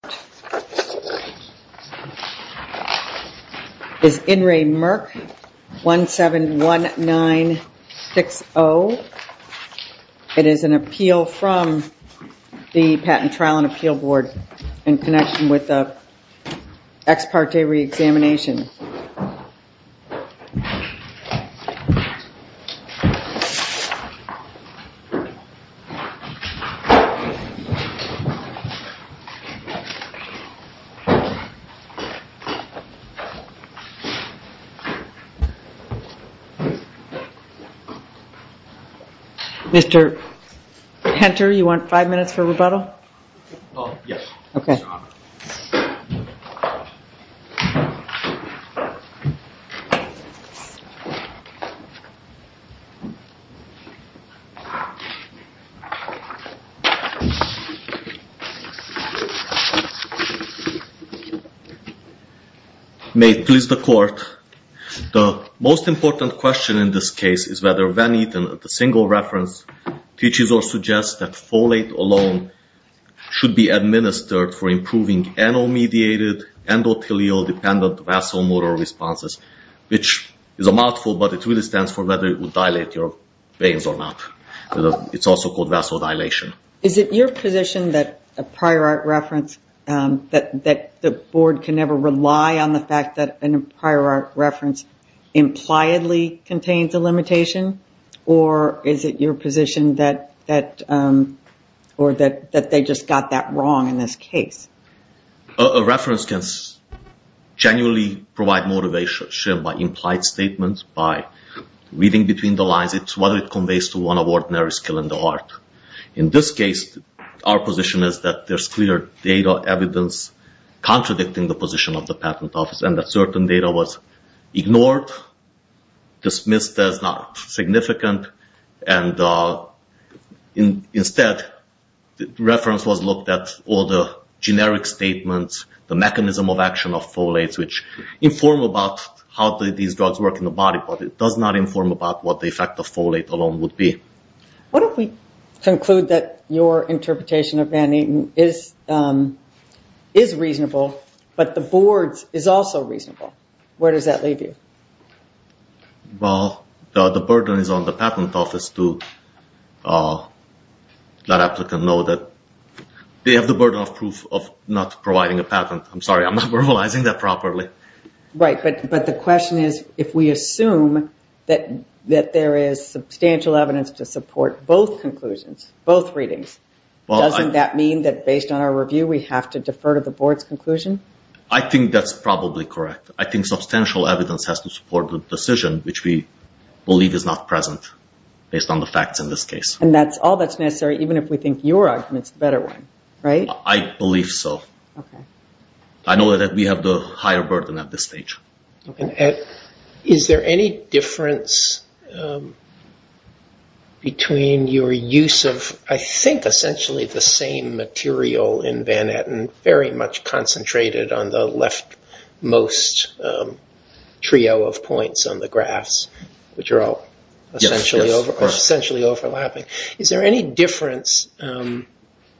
This is In Re Merck 171960. It is an appeal from the Patent Trial and Appeal Board in the Ex Parte Reexamination. Mr. Henter, you want five minutes for rebuttal? May it please the Court, the most important question in this case is whether Van Eten at the single reference teaches or suggests that a prior art reference should be administered for improving NO-mediated, endothelial-dependent vasomotor responses, which is a mouthful but it really stands for whether it would dilate your veins or not. It is also called vasodilation. Is it your position that a prior art reference, that the Board can never rely on the fact that a prior art reference impliedly contains a wrong in this case? A reference can genuinely provide motivation by implied statements, by reading between the lines, whether it conveys to one of ordinary skill in the art. In this case, our position is that there is clear data evidence contradicting the position of the Patent Office and that certain data was all the generic statements, the mechanism of action of folates, which inform about how these drugs work in the body, but it does not inform about what the effect of folate alone would be. What if we conclude that your interpretation of Van Eten is reasonable, but the Board's is also reasonable? Where does that leave you? Well, the burden is on the Patent Office to let applicants know that they have the burden of proof of not providing a patent. I'm sorry, I'm not verbalizing that properly. Right, but the question is if we assume that there is substantial evidence to support both conclusions, both readings, doesn't that mean that based on our review we have to defer to the Board's conclusion? I think that's probably correct. I think substantial evidence has to support the decision, which we believe is not present based on the facts in this case. And that's all that's necessary even if we think your argument is the better one, right? I believe so. I know that we have the higher burden at this stage. Is there any difference between your use of, I think, essentially the same material in Van Eten, very much concentrated on the left-most trio of points on the graphs, which are all essentially overlapping. Is there any difference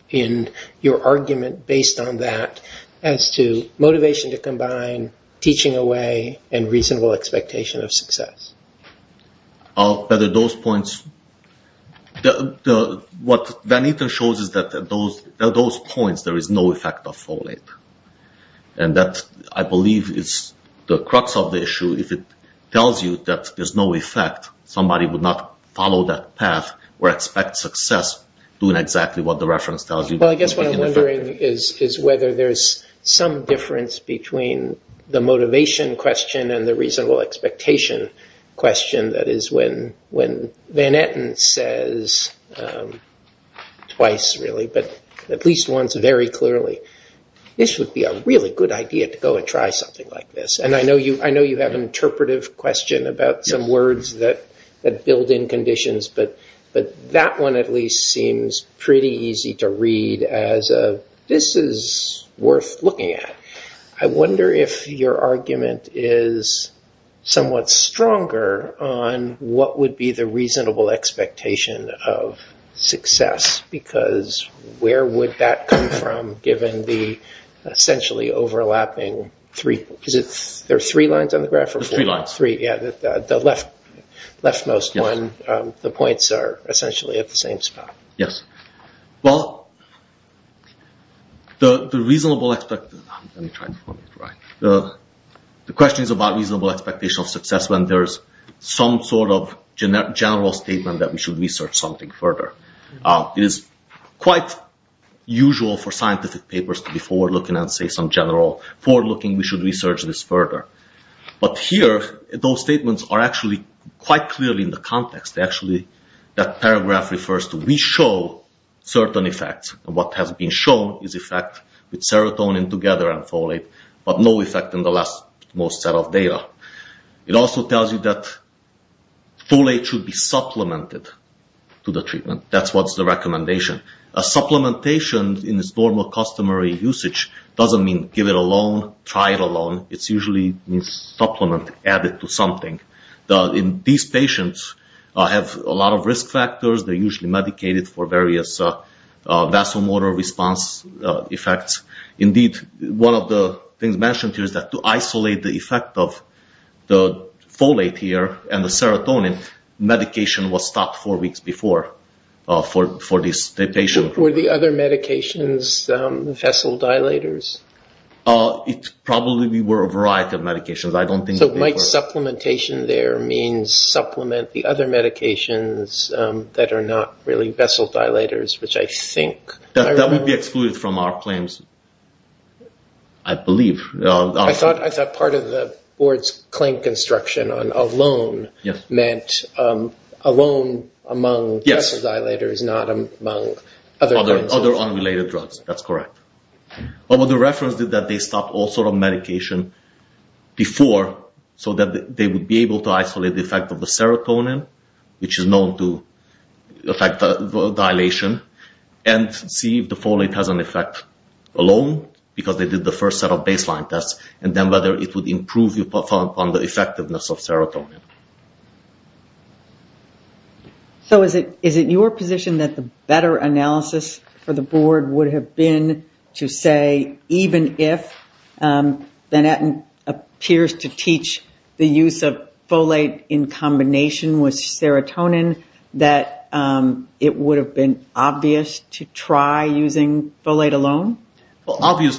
in your argument based on that as to motivation to combine teaching away and reasonable expectation of success? What Van Eten shows is that at those points there is no effect of folate. And that, I believe, is the crux of the issue. If it tells you that there's no effect, somebody would not follow that path or expect success doing exactly what the reference tells you. Well, I guess what I'm wondering is whether there's some difference between the motivation question and the reasonable expectation question. That is, when Van Eten says twice, really, but at least once very clearly, this would be a really good idea to go and try something like this. And I know you have an interpretive question about some words that build in conditions, but that one at least seems pretty easy to read as a, this is worth looking at. I wonder if your argument is somewhat stronger on what would be the reasonable expectation of success, because where would that come from given the essentially overlapping three, is it, there are three lines on the graph? There's three lines. Three, yeah, the left-most one, the points are essentially at the same spot. Yes, well, the question is about reasonable expectation of success when there's some sort of general statement that we should research something further. It is quite usual for scientific papers to be forward-looking and say some general, forward-looking, we should research this further. But here, those statements are actually quite clearly in the context. Actually, that paragraph refers to we show certain effects. What has been shown is effect with serotonin together and folate, but no effect in the left-most set of data. It also tells you that folate should be supplemented to the treatment. That's what's the recommendation. A supplementation in its normal customary usage doesn't mean give it a loan, try it a loan. It's usually a supplement added to something. These patients have a lot of risk factors. They're usually medicated for various vasomotor response effects. Indeed, one of the things mentioned here is that to isolate the effect of the folate here and the serotonin, medication was stopped four weeks before for this patient. Were the other medications vessel dilators? It probably were a variety of medications. So might supplementation there means supplement the other medications that are not really vessel dilators, which I think— That would be excluded from our claims, I believe. I thought part of the board's claim construction on a loan meant a loan among vessel dilators, not among other— Other unrelated drugs. That's correct. What the reference did is that they stopped all sort of medication before so that they would be able to isolate the effect of the serotonin, which is known to affect dilation, and see if the folate has an effect alone, because they did the first set of baseline tests, and then whether it would improve upon the effectiveness of serotonin. So is it your position that the better analysis for the board would have been to say, even if Van Etten appears to teach the use of folate in combination with serotonin, that it would have been obvious to try using folate alone? Well, obvious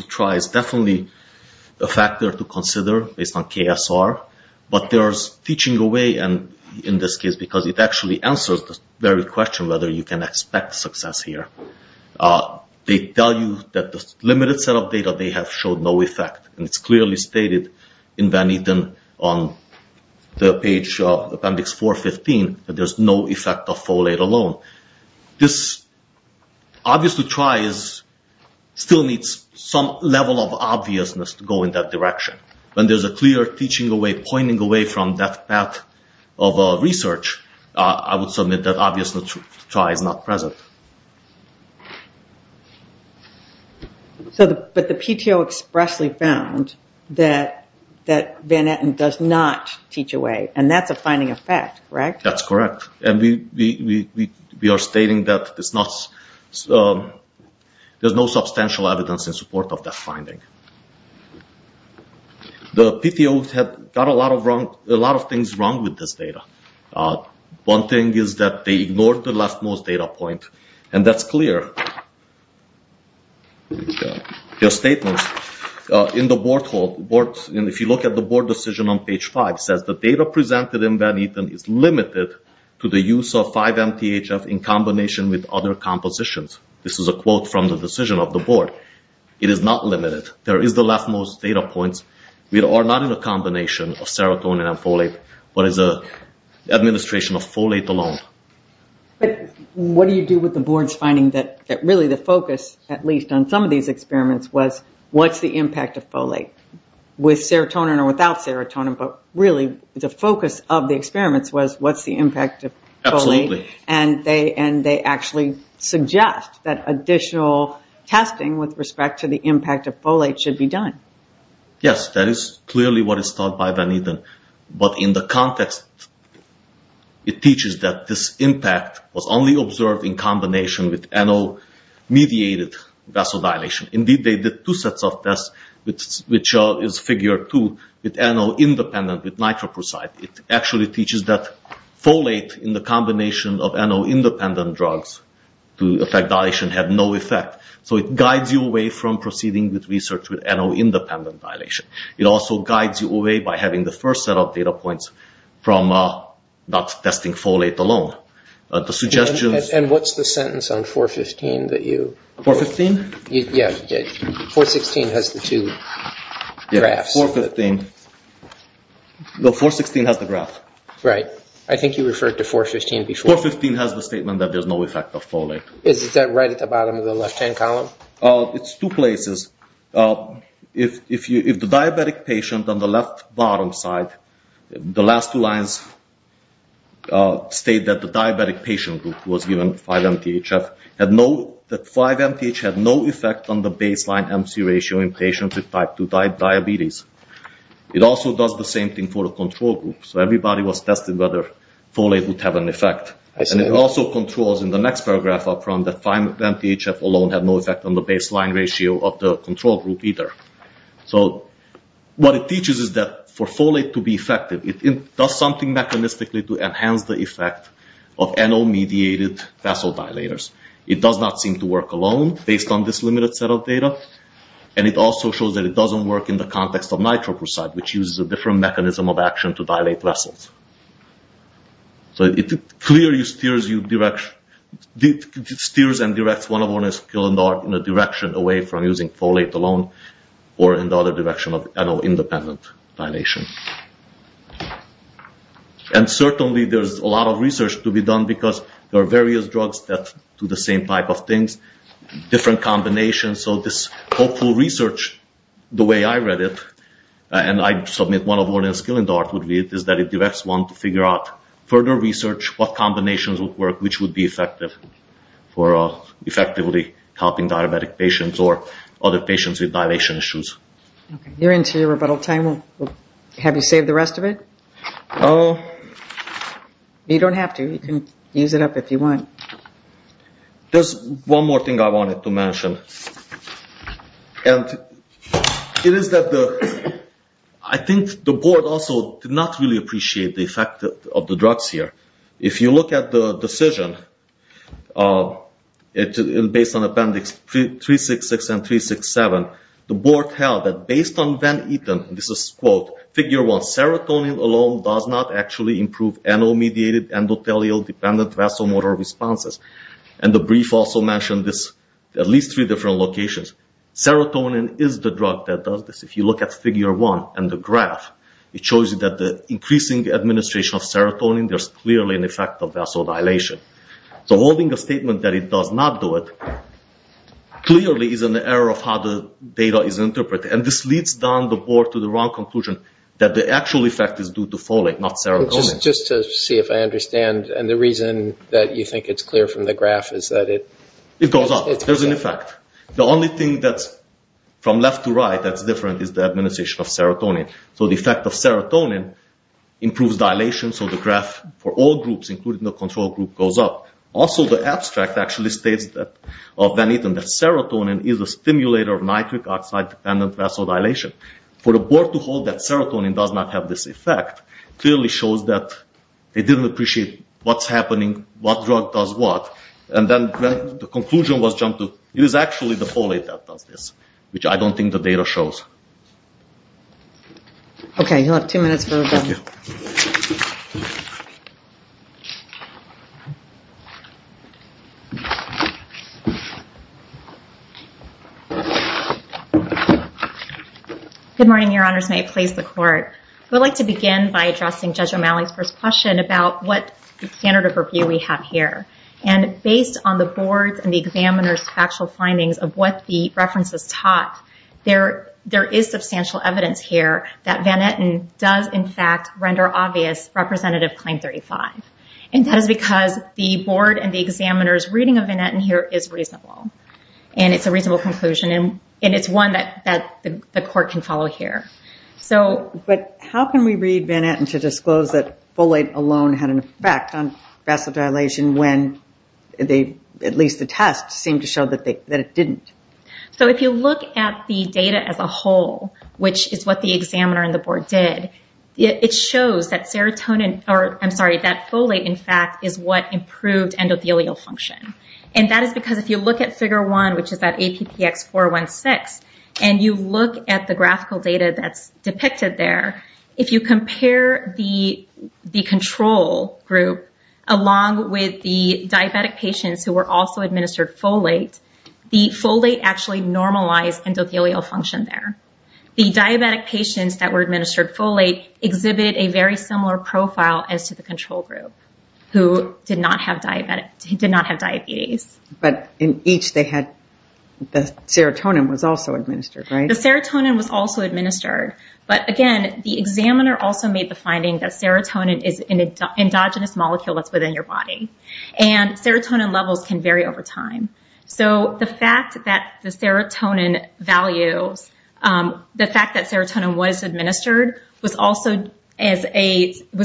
to try is definitely a factor to consider based on KSR, but there's teaching away in this case because it actually answers the very question whether you can expect success here. They tell you that the limited set of data they have showed no effect, and it's clearly stated in Van Etten on the page of Appendix 415 that there's no effect of folate alone. This obvious to try still needs some level of obviousness to go in that direction. When there's a clear teaching away, pointing away from that path of research, I would submit that obvious to try is not present. But the PTO expressly found that Van Etten does not teach away, and that's a finding of fact, correct? That's correct, and we are stating that there's no substantial evidence in support of that finding. The PTO had got a lot of things wrong with this data. One thing is that they ignored the leftmost data point, and that's clear. There are statements in the board hall, and if you look at the board decision on page 5, it says the data presented in Van Etten is limited to the use of 5-MTHF in combination with other compositions. This is a quote from the decision of the board. It is not limited. There is the leftmost data points. We are not in a combination of serotonin and folate, but it's an administration of folate alone. What do you do with the board's finding that really the focus, at least on some of these experiments, was what's the impact of folate with serotonin or without serotonin, but really the focus of the experiments was what's the impact of folate, and they actually suggest that additional testing with respect to the impact of folate should be done. Yes, that is clearly what is taught by Van Etten, but in the context, it teaches that this impact was only observed in combination with NO-mediated vasodilation. Indeed, they did two sets of tests, which is figure 2, with NO-independent, with nitroprusside. It actually teaches that folate in the combination of NO-independent drugs to affect dilation had no effect. So it guides you away from proceeding with research with NO-independent dilation. It also guides you away by having the first set of data points from not testing folate alone. And what's the sentence on 4.15 that you... 4.15? Yes, 4.16 has the two graphs. Yes, 4.15. No, 4.16 has the graph. Right. I think you referred to 4.15 before. 4.15 has the statement that there's no effect of folate. Is that right at the bottom of the left-hand column? It's two places. If the diabetic patient on the left-bottom side, the last two lines state that the diabetic patient group was given 5-MTHF, that 5-MTHF had no effect on the baseline MC ratio in patients with type 2 diabetes. It also does the same thing for the control group. So everybody was tested whether folate would have an effect. I see. And it also controls in the next paragraph up front that 5-MTHF alone had no effect on the baseline ratio of the control group either. So what it teaches is that for folate to be effective, it does something mechanistically to enhance the effect of NO-mediated vessel dilators. It does not seem to work alone based on this limited set of data. And it also shows that it doesn't work in the context of nitroprusside, which uses a different mechanism of action to dilate vessels. So it clearly steers and directs one of Ornans-Killendorf in a direction away from using folate alone or in the other direction of NO-independent dilation. And certainly there's a lot of research to be done because there are various drugs that do the same type of things, different combinations. So this hopeful research, the way I read it, and I submit what Ornans-Killendorf would read, is that it directs one to figure out further research, what combinations would work, which would be effective for effectively helping diabetic patients or other patients with dilation issues. You're into your rebuttal time. Have you saved the rest of it? No. You don't have to. You can use it up if you want. There's one more thing I wanted to mention. I think the board also did not really appreciate the effect of the drugs here. If you look at the decision based on appendix 366 and 367, the board held that based on Van Eten, and this is quote, figure one, serotonin alone does not actually improve NO-mediated, endothelial-dependent vasomotor responses. And the brief also mentioned this at least three different locations. Serotonin is the drug that does this. If you look at figure one and the graph, it shows that the increasing administration of serotonin, there's clearly an effect of vasodilation. So holding a statement that it does not do it clearly is an error of how the data is interpreted. And this leads down the board to the wrong conclusion that the actual effect is due to folate, not serotonin. Just to see if I understand, and the reason that you think it's clear from the graph is that it... It goes up. There's an effect. The only thing that's from left to right that's different is the administration of serotonin. So the effect of serotonin improves dilation, so the graph for all groups, including the control group, goes up. Also, the abstract actually states that serotonin is a stimulator of nitric oxide-dependent vasodilation. For the board to hold that serotonin does not have this effect clearly shows that they didn't appreciate what's happening, what drug does what. And then the conclusion was jumped to, it is actually the folate that does this, which I don't think the data shows. Okay, you'll have two minutes for review. Good morning, Your Honors. May it please the Court. I would like to begin by addressing Judge O'Malley's first question about what standard of review we have here. And based on the board's and the examiner's factual findings of what the references taught, there is substantial evidence here that Van Etten does, in fact, render obvious Representative Claim 35. And that is because the board and the examiner's reading of Van Etten here is reasonable. And it's a reasonable conclusion, and it's one that the Court can follow here. But how can we read Van Etten to disclose that folate alone had an effect on vasodilation when at least the test seemed to show that it didn't? So if you look at the data as a whole, which is what the examiner and the board did, it shows that folate, in fact, is what improved endothelial function. And that is because if you look at Figure 1, which is that APPX416, and you look at the graphical data that's depicted there, if you compare the control group along with the diabetic patients who were also administered folate, the folate actually normalized endothelial function there. The diabetic patients that were administered folate exhibited a very similar profile as to the control group who did not have diabetes. But in each, the serotonin was also administered, right? The serotonin was also administered. But again, the examiner also made the finding that serotonin is an endogenous molecule that's within your body. And serotonin levels can vary over time. So the fact that the serotonin values, the fact that serotonin was administered, was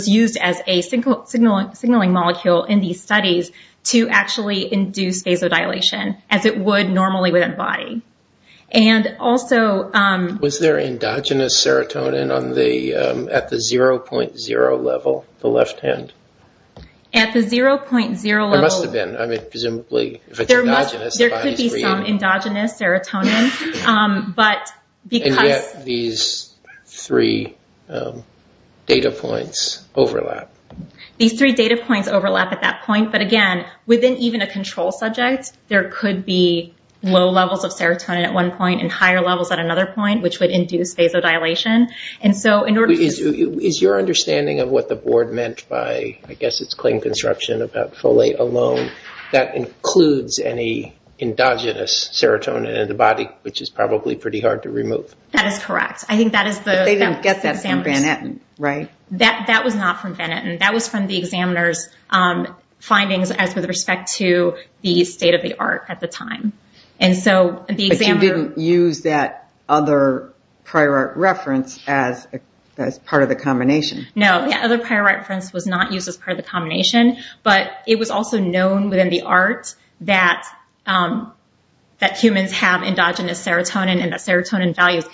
used as a signaling molecule in these studies to actually induce vasodilation as it would normally within the body. And also... Was there endogenous serotonin at the 0.0 level, the left hand? At the 0.0 level... There could be some endogenous serotonin. And yet, these three data points overlap. These three data points overlap at that point. But again, within even a control subject, there could be low levels of serotonin at one point and higher levels at another point, which would induce vasodilation. Is your understanding of what the board meant by, I guess it's claim construction about folate alone, that includes any endogenous serotonin in the body, which is probably pretty hard to remove? That is correct. I think that is the... But they didn't get that from Van Etten, right? That was not from Van Etten. That was from the examiner's findings as with respect to the state of the art at the time. But you didn't use that other prior art reference as part of the combination. No, the other prior reference was not used as part of the combination. But it was also known within the art that humans have endogenous serotonin and that serotonin values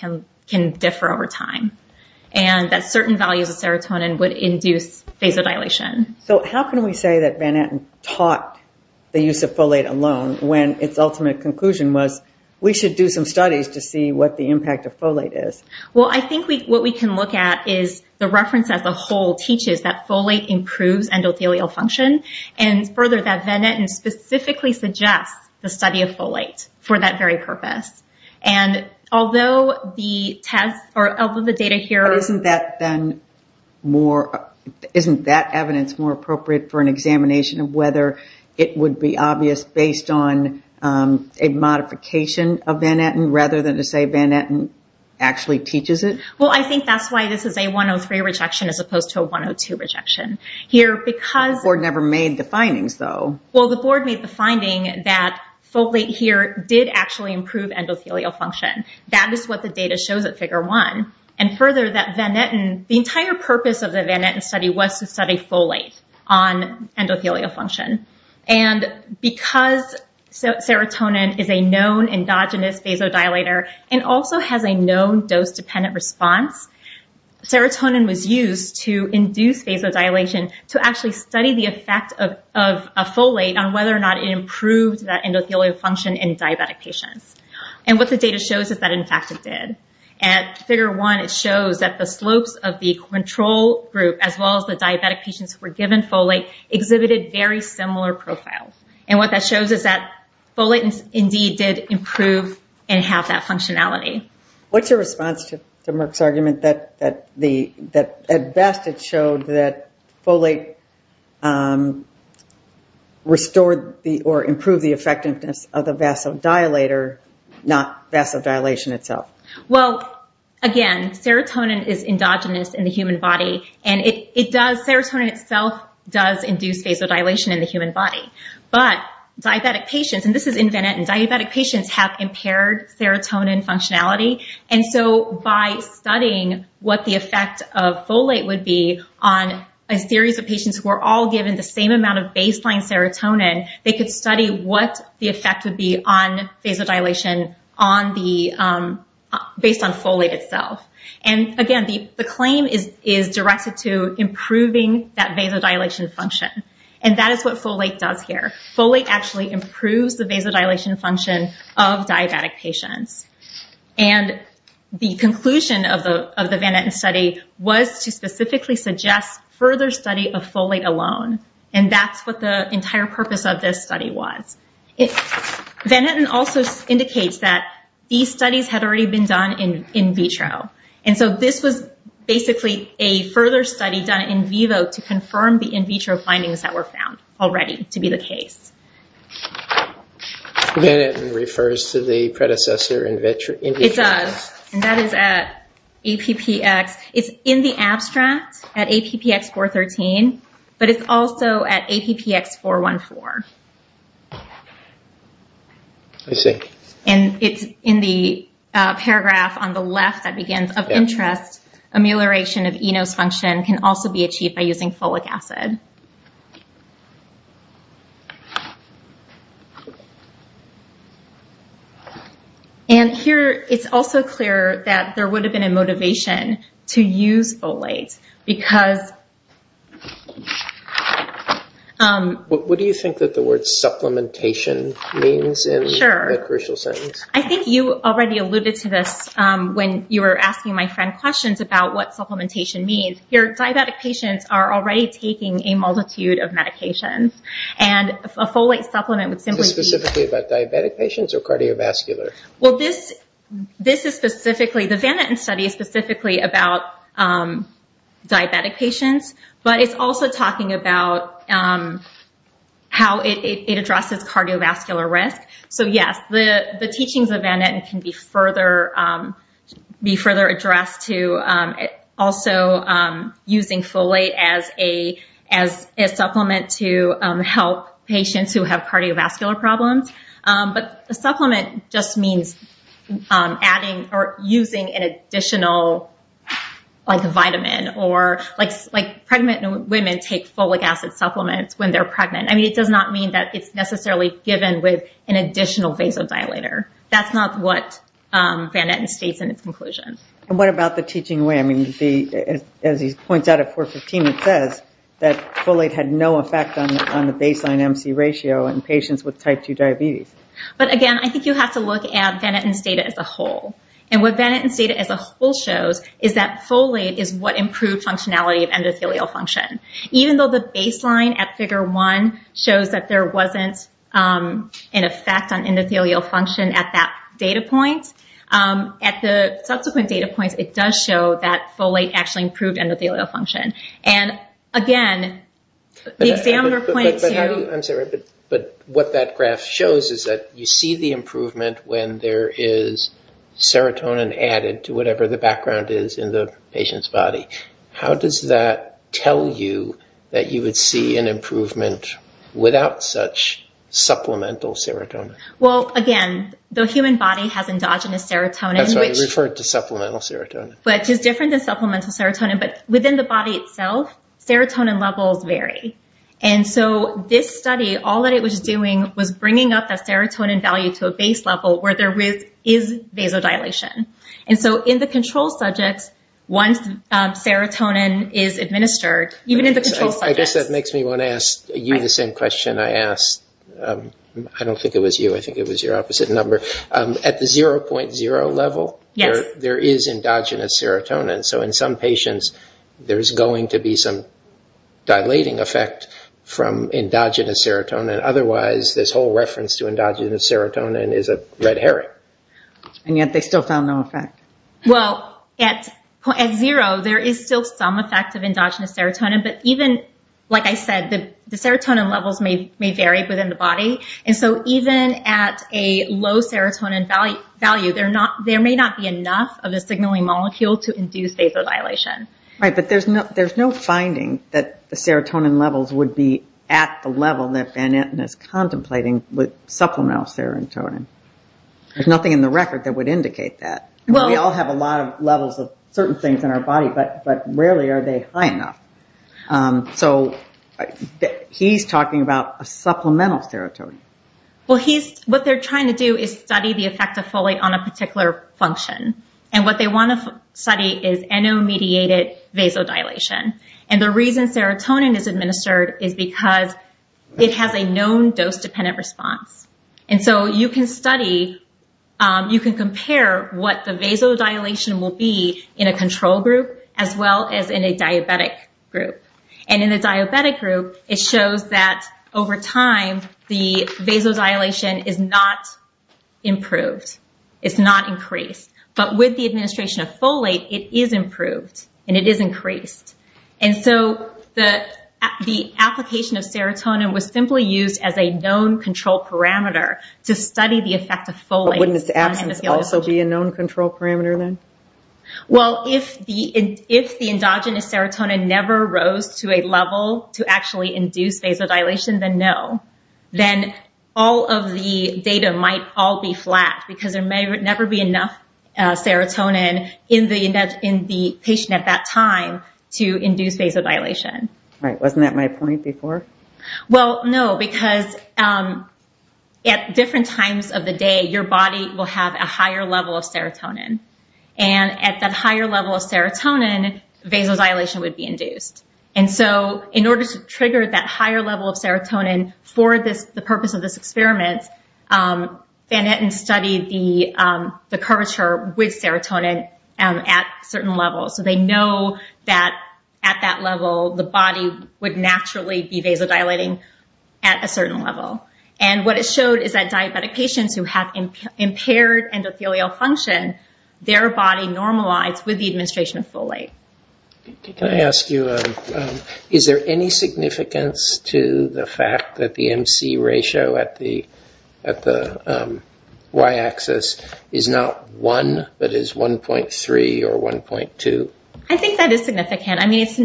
can differ over time. And that certain values of serotonin would induce vasodilation. So how can we say that Van Etten taught the use of folate alone when its ultimate conclusion was, we should do some studies to see what the impact of folate is? Well, I think what we can look at is the reference as a whole teaches that folate improves endothelial function and further that Van Etten specifically suggests the study of folate for that very purpose. And although the test or although the data here... Isn't that evidence more appropriate for an examination of whether it would be obvious based on a modification of Van Etten rather than to say Van Etten actually teaches it? Well, I think that's why this is a 103 rejection as opposed to a 102 rejection. The board never made the findings, though. Well, the board made the finding that folate here did actually improve endothelial function. That is what the data shows at Figure 1. And further that Van Etten... The entire purpose of the Van Etten study was to study folate on endothelial function. And because serotonin is a known endogenous vasodilator and also has a known dose-dependent response, serotonin was used to induce vasodilation to actually study the effect of folate on whether or not it improved that endothelial function in diabetic patients. And what the data shows is that, in fact, it did. At Figure 1, it shows that the slopes of the control group as well as the diabetic patients who were given folate exhibited very similar profiles. And what that shows is that folate indeed did improve and have that functionality. What's your response to Merck's argument that at best it showed that folate restored or improved the effectiveness of the vasodilator, not vasodilation itself? Well, again, serotonin is endogenous in the human body, and serotonin itself does induce vasodilation in the human body. But diabetic patients—and this is in Van Etten—diabetic patients have impaired serotonin functionality. And so by studying what the effect of folate would be on a series of patients who were all given the same amount of baseline serotonin, they could study what the effect would be on vasodilation based on folate itself. And again, the claim is directed to improving that vasodilation function. And that is what folate does here. Folate actually improves the vasodilation function of diabetic patients. And the conclusion of the Van Etten study was to specifically suggest further study of folate alone. And that's what the entire purpose of this study was. Van Etten also indicates that these studies had already been done in vitro. And so this was basically a further study done in vivo to confirm the in vitro findings that were found already to be the case. Van Etten refers to the predecessor in vitro. It does, and that is at APPX. It's in the abstract at APPX413, but it's also at APPX414. I see. And it's in the paragraph on the left that begins, Of interest, amelioration of ENOS function can also be achieved by using folic acid. And here, it's also clear that there would have been a motivation to use folate. What do you think that the word supplementation means in that crucial sentence? I think you already alluded to this when you were asking my friend questions about what supplementation means. Diabetic patients are already taking a multitude of medications. And a folate supplement would simply be... Is this specifically about diabetic patients or cardiovascular? The Van Etten study is specifically about diabetic patients, but it's also talking about how it addresses cardiovascular risk. So yes, the teachings of Van Etten can be further addressed to also using folate as a supplement to help patients who have cardiovascular problems. But a supplement just means adding or using an additional vitamin. Pregnant women take folic acid supplements when they're pregnant. I mean, it does not mean that it's necessarily given with an additional vasodilator. That's not what Van Etten states in its conclusion. And what about the teaching way? I mean, as he points out at 415, it says that folate had no effect on the baseline MC ratio in patients with type 2 diabetes. But again, I think you have to look at Van Etten's data as a whole. And what Van Etten's data as a whole shows is that folate is what improved functionality of endothelial function. Even though the baseline at figure one shows that there wasn't an effect on endothelial function at that data point, at the subsequent data points, it does show that folate actually improved endothelial function. And again, the examiner pointed to… But what that graph shows is that you see the improvement when there is serotonin added to whatever the background is in the patient's body. How does that tell you that you would see an improvement without such supplemental serotonin? Well, again, the human body has endogenous serotonin, which… That's why you referred to supplemental serotonin. …which is different than supplemental serotonin. But within the body itself, serotonin levels vary. And so this study, all that it was doing was bringing up that serotonin value to a base level where there is vasodilation. And so in the control subjects, once serotonin is administered, even in the control subjects… I guess that makes me want to ask you the same question I asked… I don't think it was you. I think it was your opposite number. At the 0.0 level, there is endogenous serotonin. So in some patients, there's going to be some dilating effect from endogenous serotonin. Otherwise, this whole reference to endogenous serotonin is a red herring. And yet they still found no effect. Well, at 0, there is still some effect of endogenous serotonin. But even, like I said, the serotonin levels may vary within the body. And so even at a low serotonin value, there may not be enough of a signaling molecule to induce vasodilation. Right, but there's no finding that the serotonin levels would be at the level that Van Etten is contemplating with supplemental serotonin. There's nothing in the record that would indicate that. We all have a lot of levels of certain things in our body, but rarely are they high enough. So he's talking about a supplemental serotonin. Well, what they're trying to do is study the effect of folate on a particular function. And what they want to study is NO-mediated vasodilation. And the reason serotonin is administered is because it has a known dose-dependent response. And so you can study, you can compare what the vasodilation will be in a control group as well as in a diabetic group. And in the diabetic group, it shows that over time, the vasodilation is not improved. It's not increased. But with the administration of folate, it is improved and it is increased. And so the application of serotonin was simply used as a known control parameter to study the effect of folate. But wouldn't its absence also be a known control parameter then? Well, if the endogenous serotonin never rose to a level to actually induce vasodilation, then no. Then all of the data might all be flat because there may never be enough serotonin in the patient at that time to induce vasodilation. Right. Wasn't that my point before? Well, no, because at different times of the day, your body will have a higher level of serotonin. And at that higher level of serotonin, vasodilation would be induced. And so in order to trigger that higher level of serotonin for the purpose of this experiment, Van Etten studied the curvature with serotonin at certain levels. So they know that at that level, the body would naturally be vasodilating at a certain level. And what it showed is that diabetic patients who have impaired endothelial function, their body normalizes with the administration of folate. Can I ask you, is there any significance to the fact that the MC ratio at the y-axis is not 1, but is 1.3 or 1.2? I think that is significant. What's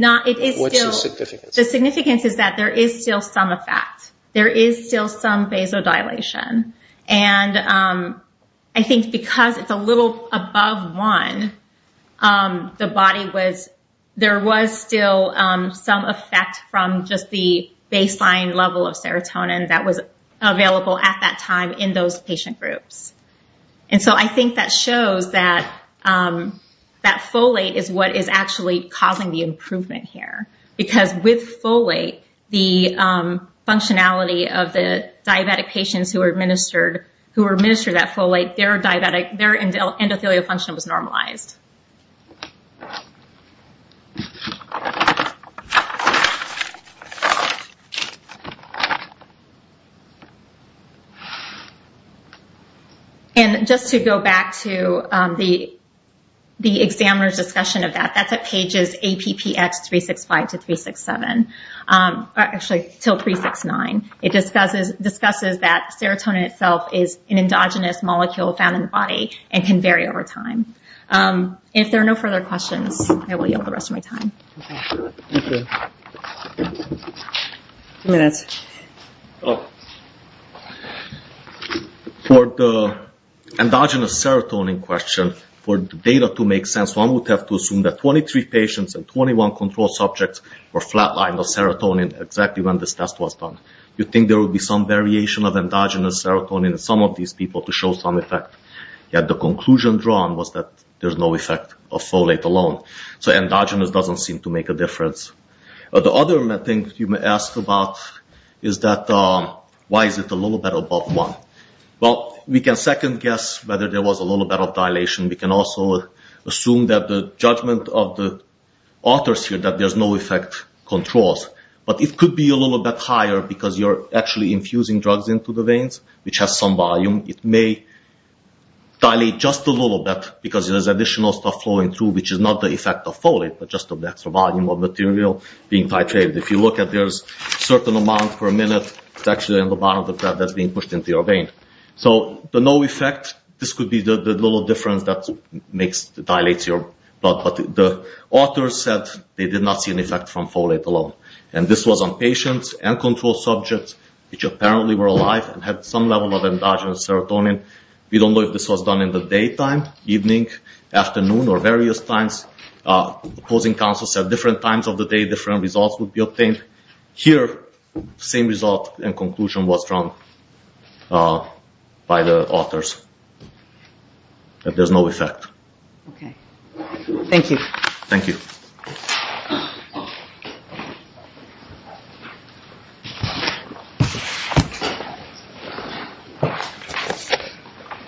the significance? The significance is that there is still some effect. There is still some vasodilation. And I think because it's a little above 1, there was still some effect from just the baseline level of serotonin that was available at that time in those patient groups. And so I think that shows that folate is what is actually causing the improvement here. Because with folate, the functionality of the diabetic patients who were administered that folate, their endothelial function was normalized. And just to go back to the examiner's discussion of that, that's at pages APPX365-367. Actually, till 369. It discusses that serotonin itself is an endogenous molecule found in the body and can vary over time. If there are no further questions, I will yield the rest of my time. Thank you. For the endogenous serotonin question, for the data to make sense, one would have to assume that 23 patients and 21 control subjects were flatlined with serotonin exactly when this test was done. You'd think there would be some variation of endogenous serotonin in some of these people to show some effect. Yet the conclusion drawn was that there's no effect of folate alone. So endogenous doesn't seem to make a difference. The other thing you may ask about is that why is it a little bit above 1? Well, we can second guess whether there was a little bit of dilation. We can also assume that the judgment of the authors here that there's no effect controls. But it could be a little bit higher because you're actually infusing drugs into the veins, which has some volume. It may dilate just a little bit because there's additional stuff flowing through, which is not the effect of folate, but just of the extra volume of material being titrated. If you look at it, there's a certain amount per minute that's actually in the bottom of the blood that's being pushed into your vein. So the no effect, this could be the little difference that dilates your blood. But the authors said they did not see an effect from folate alone. And this was on patients and control subjects, which apparently were alive and had some level of endogenous serotonin. We don't know if this was done in the daytime, evening, afternoon, or various times. The opposing counsel said different times of the day, different results would be obtained. Here, same result and conclusion was drawn by the authors, that there's no effect. Thank you. Thank you.